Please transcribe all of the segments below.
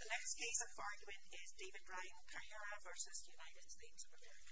The next case in for argument is David Ryan Tejera v. United States of America.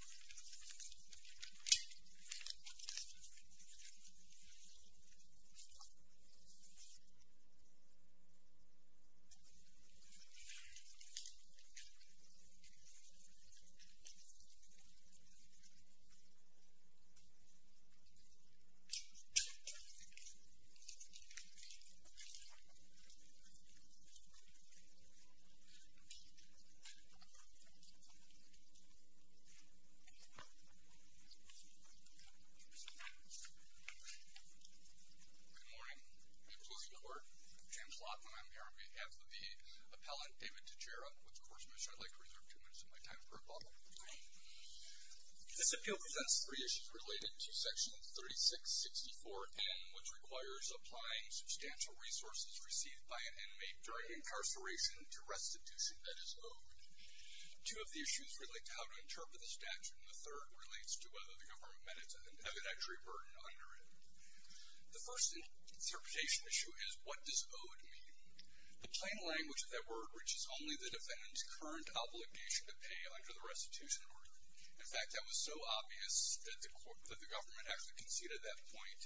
This appeal presents three issues related to Section 3664N which requires applying substantial resources received by an inmate during incarceration to restitution, that is, owed. Two of the issues relate to how to interpret the statute, and the third relates to whether the government met its evidentiary burden under it. The first interpretation issue is, what does owed mean? The plain language of that word reaches only the defendant's current obligation to pay under the restitution order. In fact, that was so obvious that the government actually conceded that point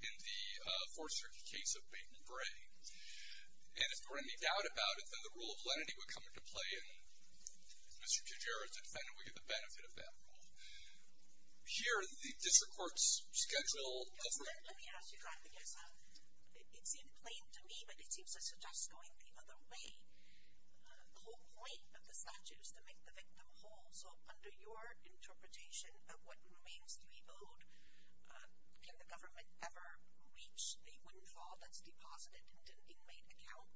in the Fourth Amendment decree. And if there were any doubt about it, then the rule of lenity would come into play and Mr. Tejera, as a defendant, would get the benefit of that rule. Here, the district court's schedule... Let me ask you, Dr. Gessa. It seemed plain to me, but it seems to suggest going the other way. The whole point of the statute is to make the victim whole. So under your interpretation of what remains to be owed, can the government ever reach a state windfall that's deposited into an inmate account?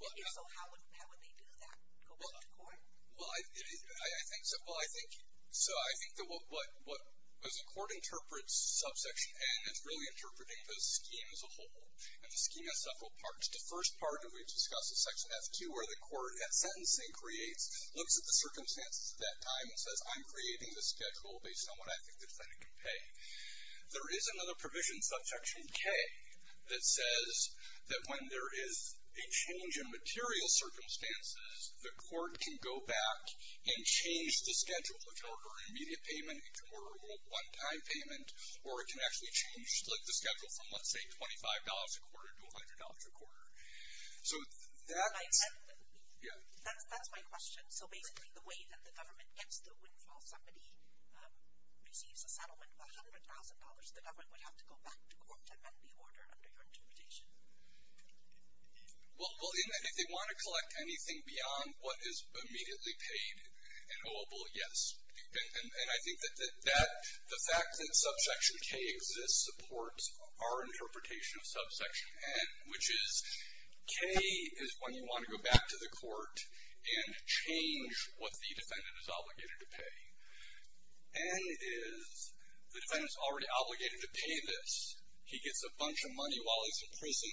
If so, how would they do that? Go back to court? Well, I think... So I think that what... As the court interprets Subsection N, it's really interpreting the scheme as a whole. And the scheme has several parts. The first part, and we've discussed this, Section F2, where the court, at sentencing, creates, looks at the circumstances at that time and says, I'm creating this schedule based on what I think the defendant can pay. There is another provision, Subsection K, that says that when there is a change in material circumstances, the court can go back and change the schedule. It can occur in immediate payment, it can occur in one-time payment, or it can actually change the schedule from, let's say, $25 a quarter to $100 a quarter. So that's... That's my question. So basically, the way that the government gets the windfall, if somebody receives a settlement of $100,000, the government would have to go back to court to amend the order under your interpretation? Well, if they want to collect anything beyond what is immediately paid and oweable, yes. And I think that the fact that Subsection K exists supports our interpretation of Subsection N, which is K is when you want to go back to the court and change what the defendant is obligated to pay. N is the defendant is already obligated to pay this. He gets a bunch of money while he's in prison,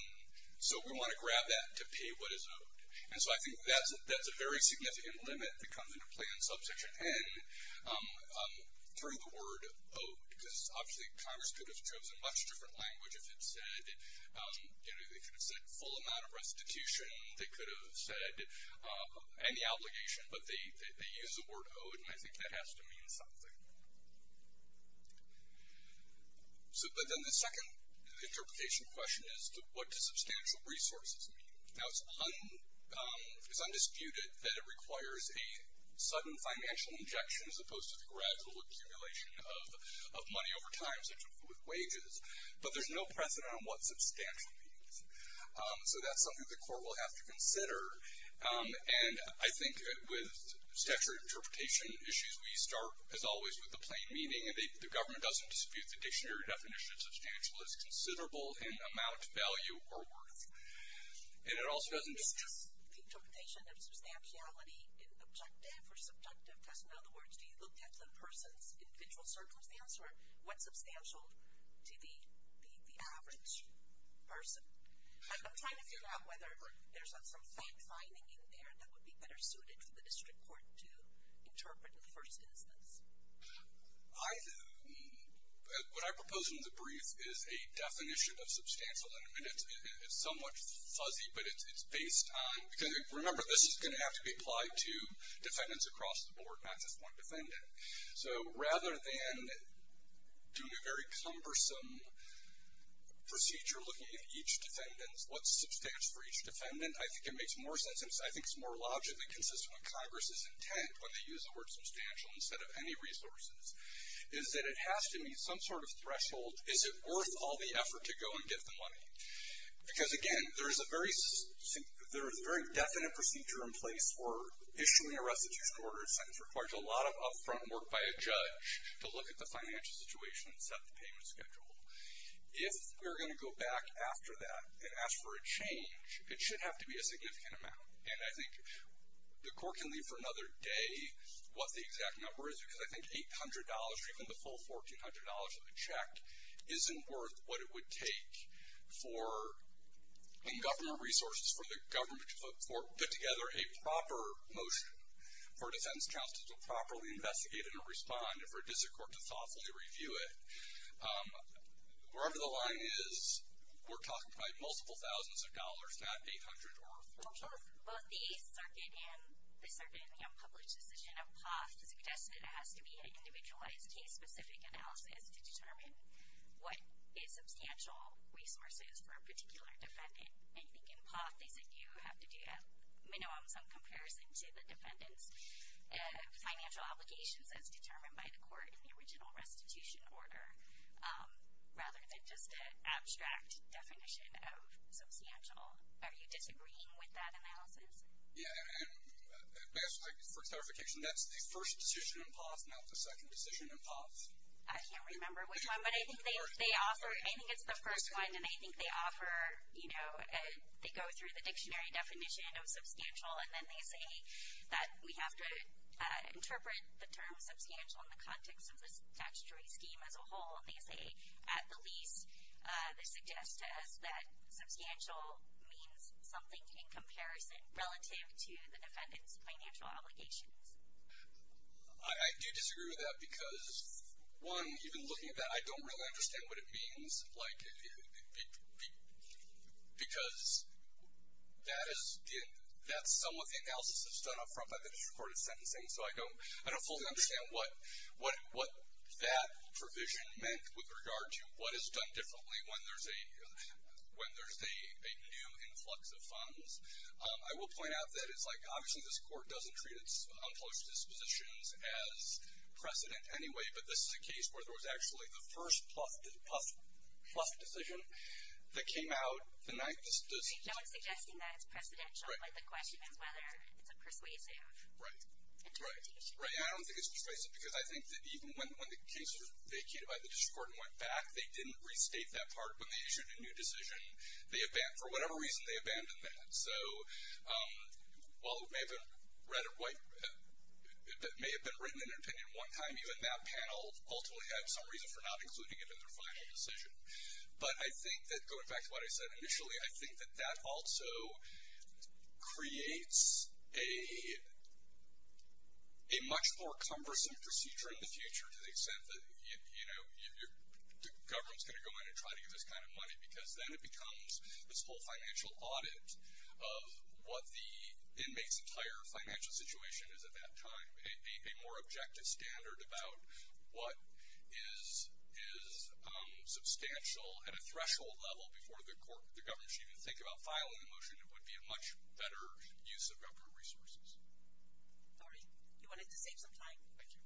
so we want to grab that to pay what is owed. And so I think that's a very significant limit that comes into play in Subsection N through the word owed, because obviously Congress could have chosen a much different language if it said, you know, they could have said full amount of restitution. They could have said any obligation, but they use the word owed, and I think that has to mean something. But then the second interpretation question is what do substantial resources mean? Now, it's undisputed that it requires a sudden financial injection as opposed to the gradual accumulation of money over time, such as with wages. But there's no precedent on what substantial means, so that's something the court will have to consider. And I think with statutory interpretation issues, we start, as always, with the plain meaning. The government doesn't dispute the dictionary definition of substantial as considerable in amount, value, or worth. And it also doesn't dispute the interpretation of substantiality in objective or subjective testing. In other words, do you look at the person's individual circumstances or what's substantial to the average person? I'm trying to figure out whether there's some fine-fining in there that would be better suited for the district court to interpret in the first instance. What I propose in the brief is a definition of substantial, and it's somewhat fuzzy, but it's based on, because remember, this is going to have to be applied to defendants across the board, not just one defendant. So rather than doing a very cumbersome procedure looking at each defendant, what's substantial for each defendant, I think it makes more sense, and I think it's more logically consistent with Congress's intent when they use the word substantial instead of any resources, is that it has to meet some sort of threshold. Is it worth all the effort to go and get the money? Because, again, there is a very definite procedure in place for issuing a restitution order. It sometimes requires a lot of upfront work by a judge to look at the financial situation and set the payment schedule. If we're going to go back after that and ask for a change, it should have to be a significant amount, and I think the court can leave for another day what the exact number is, because I think $800 or even the full $1,400 of the check isn't worth what it would take for government resources, for the government to put together a proper motion for a defense counsel to properly investigate and respond and for a district court to thoughtfully review it. Wherever the line is, we're talking about multiple thousands of dollars, not $800 or a full check. Well, both the circuit and the unpublished decision of POTH suggested it has to be an individualized case-specific analysis to determine what a substantial resource is for a particular defendant. I think in POTH, they said you have to do at minimum some comparison to the defendant's financial obligations as determined by the court in the original restitution order, rather than just an abstract definition of substantial. Are you disagreeing with that analysis? Yeah, and for clarification, that's the first decision in POTH, not the second decision in POTH. I can't remember which one, but I think it's the first one, and I think they offer, you know, they go through the dictionary definition of substantial, and then they say that we have to interpret the term substantial in the context of the statutory scheme as a whole, and they say at the least, they suggest to us that substantial means something in comparison relative to the defendant's financial obligations. I do disagree with that because, one, even looking at that, I don't really understand what it means, because that's some of the analysis that's done up front by the district court of sentencing, so I don't fully understand what that provision meant with regard to what is done differently when there's a new influx of funds. I will point out that it's like, obviously this court doesn't treat its unclosed dispositions as precedent anyway, but this is a case where there was actually the first PLUF decision that came out the night... No one's suggesting that it's precedential. The question is whether it's a persuasive interpretation. Right. I don't think it's persuasive, because I think that even when the case was vacated by the district court and went back, they didn't restate that part when they issued a new decision. For whatever reason, they abandoned that. So while it may have been written in an opinion one time, even that panel ultimately had some reason for not including it in their final decision. But I think that, going back to what I said initially, I think that that also creates a much more cumbersome procedure in the future to the extent that, you know, the government's going to go in and try to get this kind of money, because then it becomes this whole financial audit of what the inmate's entire financial situation is at that time, a more objective standard about what is substantial at a threshold level before the government should even think about filing a motion. It would be a much better use of government resources. Dory, you wanted to save some time. Thank you.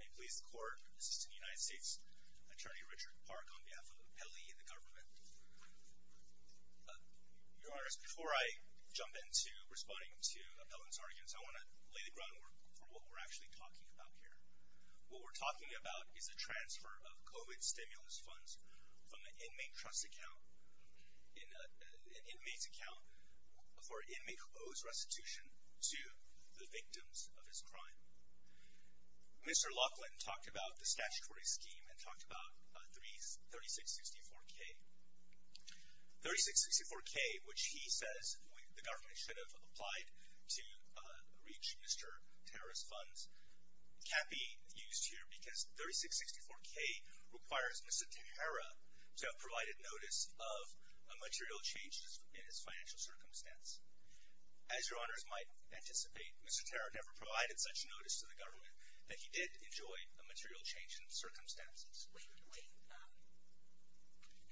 May it please the court, Assistant United States Attorney Richard Park, on behalf of the appellee and the government. Your Honor, before I jump into responding to appellant's arguments, I want to lay the groundwork for what we're actually talking about here. What we're talking about is a transfer of COVID stimulus funds from an inmate's account for an inmate who owes restitution to the victims of his crime. Mr. Laughlin talked about the statutory scheme and talked about 3664-K. 3664-K, which he says the government should have applied to reach Mr. Tahara's funds, can't be used here because 3664-K requires Mr. Tahara to have provided notice of a material change in his financial circumstance. As Your Honors might anticipate, Mr. Tahara never provided such notice to the government that he did enjoy a material change in circumstances. Wait, wait.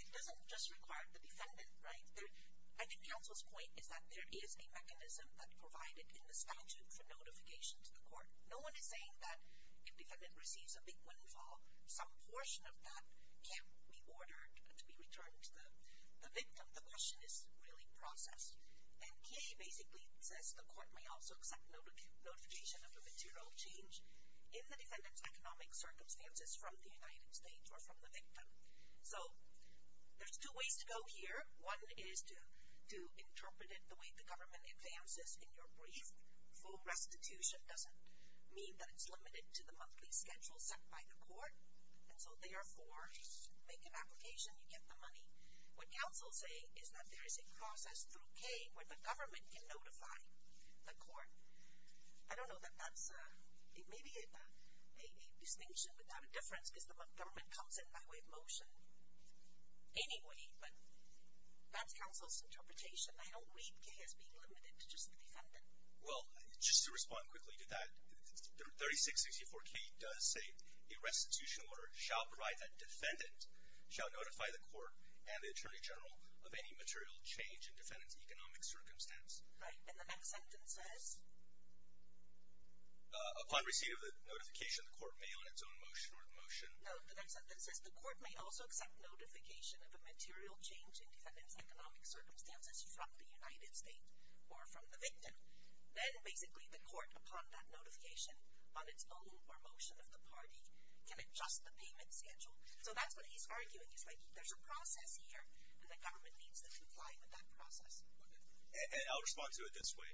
It doesn't just require the defendant, right? I think counsel's point is that there is a mechanism that provided in the statute for notification to the court. No one is saying that if defendant receives a big windfall, some portion of that can't be ordered to be returned to the victim. The question is really processed. And K basically says the court may also accept notification of a material change in the defendant's economic circumstances from the United States or from the victim. So there's two ways to go here. One is to interpret it the way the government advances in your brief. Full restitution doesn't mean that it's limited to the monthly schedule set by the court, and so therefore make an application, you get the money. What counsel's saying is that there is a process through K where the government can notify the court. I don't know that that's maybe a distinction without a difference because the government comes in by way of motion anyway, but that's counsel's interpretation. I don't read K as being limited to just the defendant. Well, just to respond quickly to that, 3664K does say a restitution order shall provide that defendant shall notify the court and the attorney general of any material change in defendant's economic circumstance. Right, and the next sentence says? Upon receipt of the notification, the court may on its own motion or motion. No, the next sentence says the court may also accept notification of a material change in defendant's economic circumstances from the United States or from the victim. Then basically the court, upon that notification, on its own or motion of the party, can adjust the payment schedule. So that's what he's arguing. He's like, there's a process here, and the government needs to comply with that process. And I'll respond to it this way.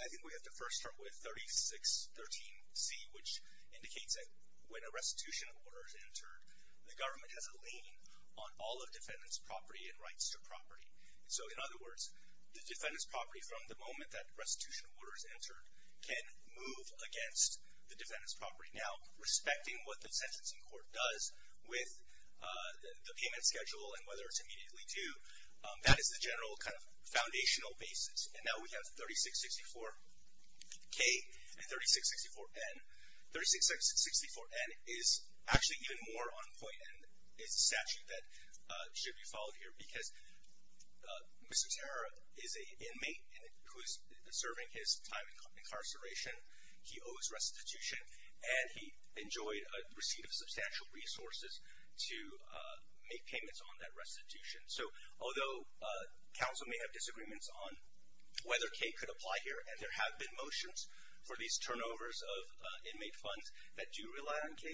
I think we have to first start with 3613C, which indicates that when a restitution order is entered, the government has a lane on all of defendant's property and rights to property. So in other words, the defendant's property from the moment that restitution order is entered can move against the defendant's property. Now, respecting what the sentencing court does with the payment schedule and whether it's immediately due, that is the general kind of foundational basis. And now we have 3664K and 3664N. 3664N is actually even more on point and is a statute that should be followed here because Mr. Terra is an inmate who is serving his time in incarceration. He owes restitution, and he enjoyed a receipt of substantial resources to make payments on that restitution. So although counsel may have disagreements on whether K could apply here, and there have been motions for these turnovers of inmate funds that do rely on K,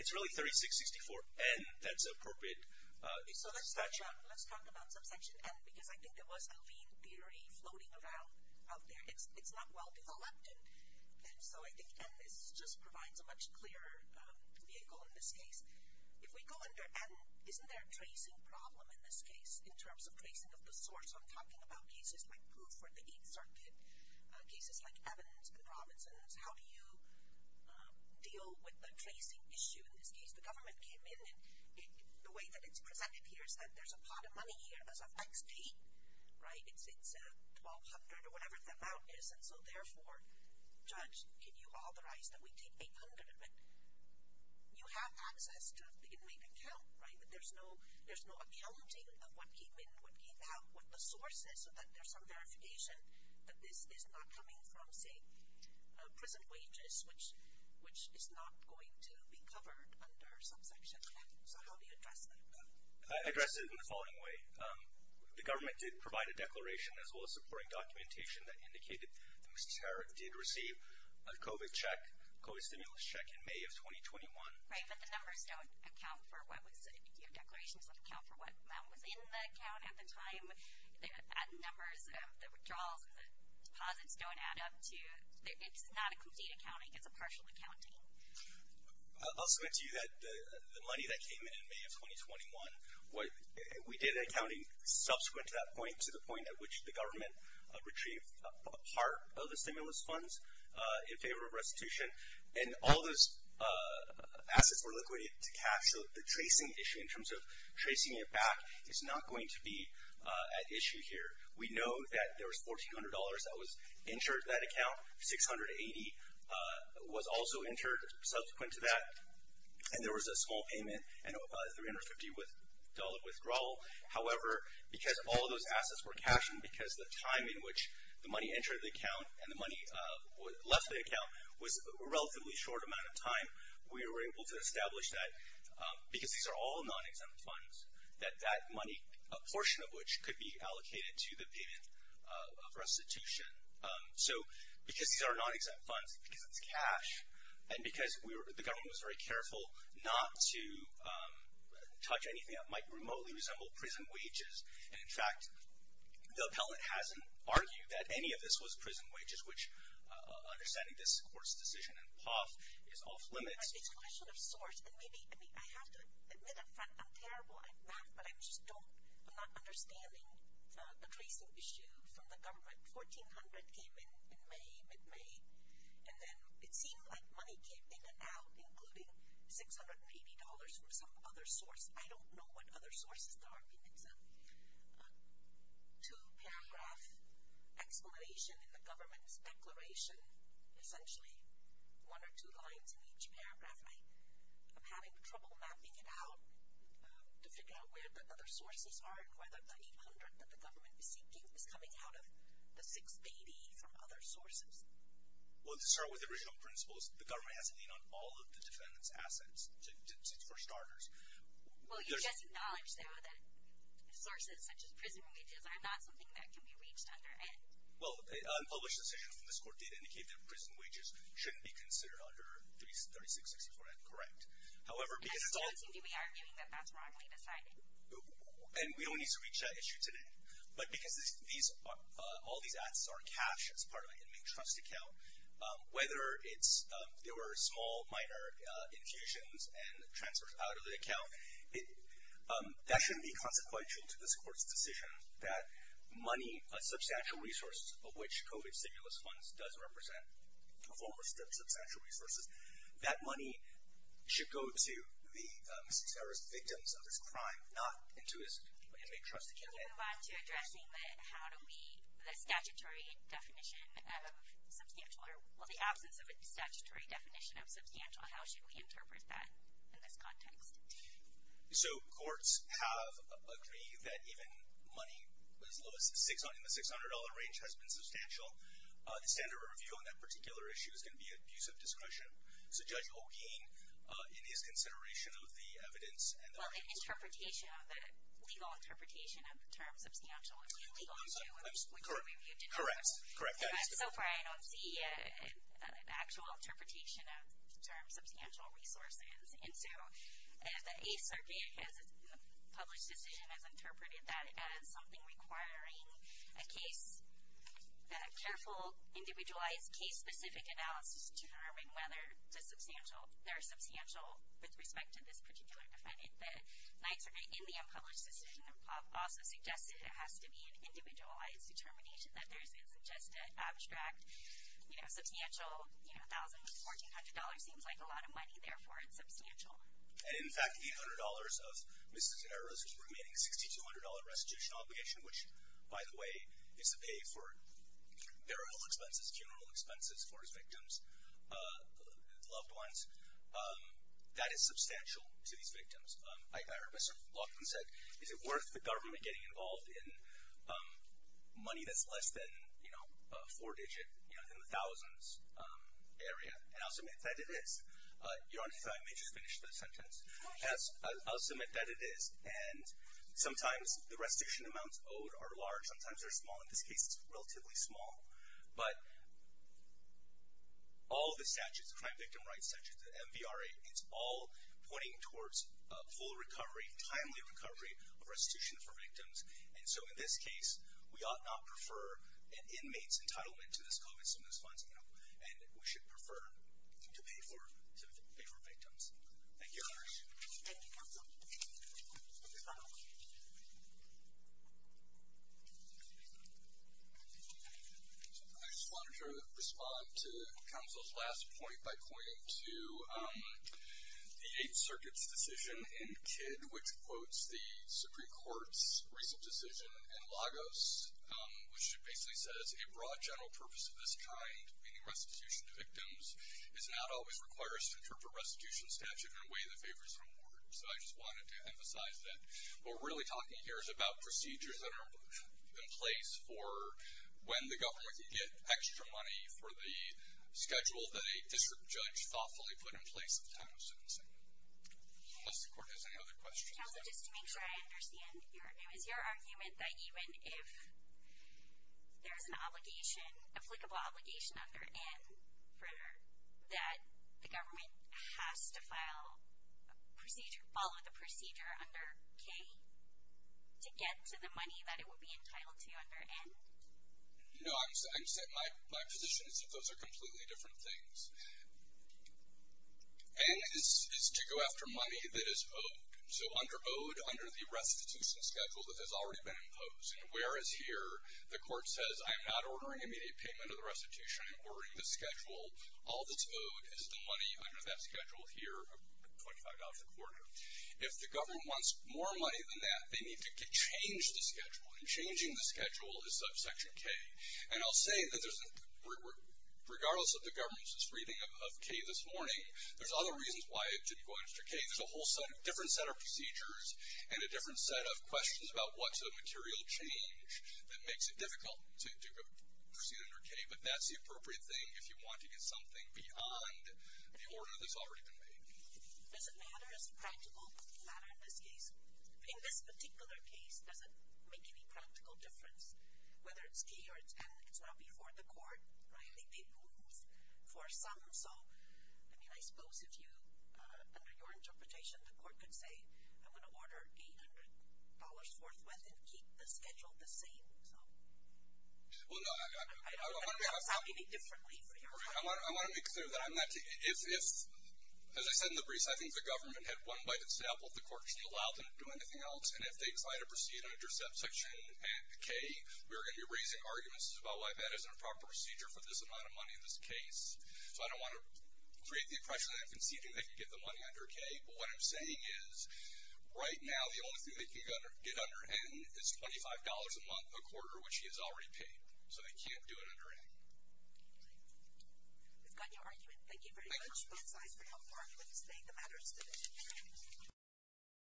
it's really 3664N that's appropriate. So let's talk about subsection N because I think there was a lean theory floating around out there. It's not well-developed, and so I think N just provides a much clearer vehicle in this case. If we go under N, isn't there a tracing problem in this case in terms of tracing of the source? I'm talking about cases like proof for the Eighth Circuit, cases like Evans and Robinson's. How do you deal with the tracing issue in this case? The government came in, and the way that it's presented here is that there's a pot of money here as of X date, right? It's $1,200 or whatever the amount is, and so therefore, judge, can you authorize that we take $800? But you have access to the inmate account, right? But there's no accounting of what came in, what came out, what the source is, so that there's some verification that this is not coming from, say, prison wages, which is not going to be covered under subsection N. So how do you address that? I address it in the following way. The government did provide a declaration as well as supporting documentation that indicated that Mr. Tarrant did receive a COVID check, COVID stimulus check in May of 2021. Right, but the numbers don't account for what was said. Your declaration doesn't account for what amount was in the account at the time, the numbers, the withdrawals, and the deposits don't add up to... It's not a complete accounting. It's a partial accounting. I'll submit to you that the money that came in in May of 2021, we did accounting subsequent to that point, to the point at which the government retrieved part of the stimulus funds in favor of restitution, and all those assets were liquidated to cash, so the tracing issue in terms of tracing it back is not going to be at issue here. We know that there was $1,400 that was entered to that account, $680 was also entered subsequent to that, and there was a small payment, and a $350 withdrawal. However, because all those assets were cashed and because the time in which the money entered the account and the money left the account was a relatively short amount of time, we were able to establish that, because these are all non-exempt funds, that that money, a portion of which, could be allocated to the payment of restitution. So, because these are non-exempt funds, because it's cash, and because the government was very careful not to touch anything that might remotely resemble prison wages, and in fact, the appellant hasn't argued that any of this was prison wages, which, understanding this Court's decision in Poff, is off limits. It's a question of source, and maybe, I mean, I have to admit up front, I'm terrible at math, but I just don't, I'm not understanding the tracing issue from the government. $1,400 came in in May, mid-May, and then it seemed like money came in and out, including $680 from some other source. I don't know what other sources there are. It's a two-paragraph explanation in the government's declaration, essentially one or two lines in each paragraph, and I'm having trouble mapping it out to figure out where the other sources are, and whether the $800 that the government is seeking is coming out of the $680 from other sources. Well, to start with the original principles, the government has to lean on all of the defendant's assets, for starters. Well, you just acknowledged, though, that sources such as prison wages are not something that can be reached under N. Well, a published decision from this Court did indicate that prison wages shouldn't be considered under 3664N, correct. However, because it's all... And I still don't seem to be arguing that that's wrongly decided. And we don't need to reach that issue today. But because all these assets are cash, as part of an inmate trust account, whether it's there were small, minor infusions and transfers out of the account, that shouldn't be consequential to this Court's decision that money, a substantial resource of which COVID stimulus funds does represent a form of substantial resources, that money should go to the victim's of this crime, not into his inmate trust account. Can you move on to addressing the absence of a statutory definition of substantial? How should we interpret that in this context? So courts have agreed that even money as low as in the $600 range has been substantial. The standard of review on that particular issue is going to be abuse of discretion. So Judge O'Kane, in his consideration of the evidence... Well, the legal interpretation of the term substantial would be legal too, which we reviewed in court. Correct. So far, I don't see an actual interpretation of the term substantial resources. And so the Eighth Circuit, in the published decision, has interpreted that as something requiring a case, a careful, individualized case-specific analysis to determine whether they're substantial with respect to this particular defendant. The Ninth Circuit, in the unpublished decision, also suggested it has to be an individualized determination that there's a suggested abstract substantial, you know, $1,400 seems like a lot of money, therefore it's substantial. And in fact, the $100 of Mrs. Herrera's remaining $6,200 restitution obligation, which, by the way, is to pay for burial expenses, that is substantial to these victims. I heard Mr. Laughlin said, is it worth the government getting involved in money that's less than, you know, a four-digit, you know, in the thousands area? And I'll submit that it is. Your Honor, if I may just finish that sentence. Yes, I'll submit that it is. And sometimes the restitution amounts owed are large, sometimes they're small. In this case, it's relatively small. But all the statutes, the Crime Victim Rights Statutes, the MVRA, it's all pointing towards full recovery, timely recovery of restitution for victims. And so in this case, we ought not prefer an inmate's entitlement to this COVID stimulus funds, and we should prefer to pay for victims. Thank you, Your Honor. I just wanted to respond to counsel's last point by pointing to the Eighth Circuit's decision in Kidd, which quotes the Supreme Court's recent decision in Lagos, which basically says, a broad general purpose of this kind, meaning restitution to victims, does not always require a center for restitution statute in a way that favors an award. So I just wanted to emphasize that what we're really talking here is about procedures that are in place for when the government can get extra money for the schedule that a district judge thoughtfully put in place at the time of sentencing. Unless the Court has any other questions. Counsel, just to make sure I understand, it was your argument that even if there's an obligation, applicable obligation under N, that the government has to follow the procedure under K to get to the money that it would be entitled to under N? No, my position is that those are completely different things. N is to go after money that is owed. So under owed, under the restitution schedule that has already been imposed. Whereas here, the Court says, I'm not ordering immediate payment of the restitution, I'm ordering the schedule. All that's owed is the money under that schedule here, $25 a quarter. If the government wants more money than that, they need to change the schedule. And changing the schedule is Section K. And I'll say that regardless of the government's reading of K this morning, there's other reasons why it should go after K. There's a whole different set of procedures and a different set of questions about what's the material change that makes it difficult to proceed under K. But that's the appropriate thing if you want to get something beyond the order that's already been made. Does it matter, is it practical? Does it matter in this case? Does it make any practical difference? Whether it's K or it's N, it's not before the Court. They move for some. So, I mean, I suppose if you, under your interpretation, the Court could say, I'm going to order $800 forthwith and keep the schedule the same. I don't want to sound any differently. I want to make clear that I'm not, if, as I said in the brief, I think the government had one bite at the table, the Court should allow them to do anything else. And if they decide to proceed under Subsection K, we are going to be raising arguments about why that isn't a proper procedure for this amount of money in this case. So I don't want to create the impression that I'm conceding they can get the money under K. But what I'm saying is right now the only thing they can get under N is $25 a month per quarter, which he has already paid. So they can't do it under N. We've gotten your argument. Thank you very much. Thank you. That's all for now. The argument is made. The matter is submitted.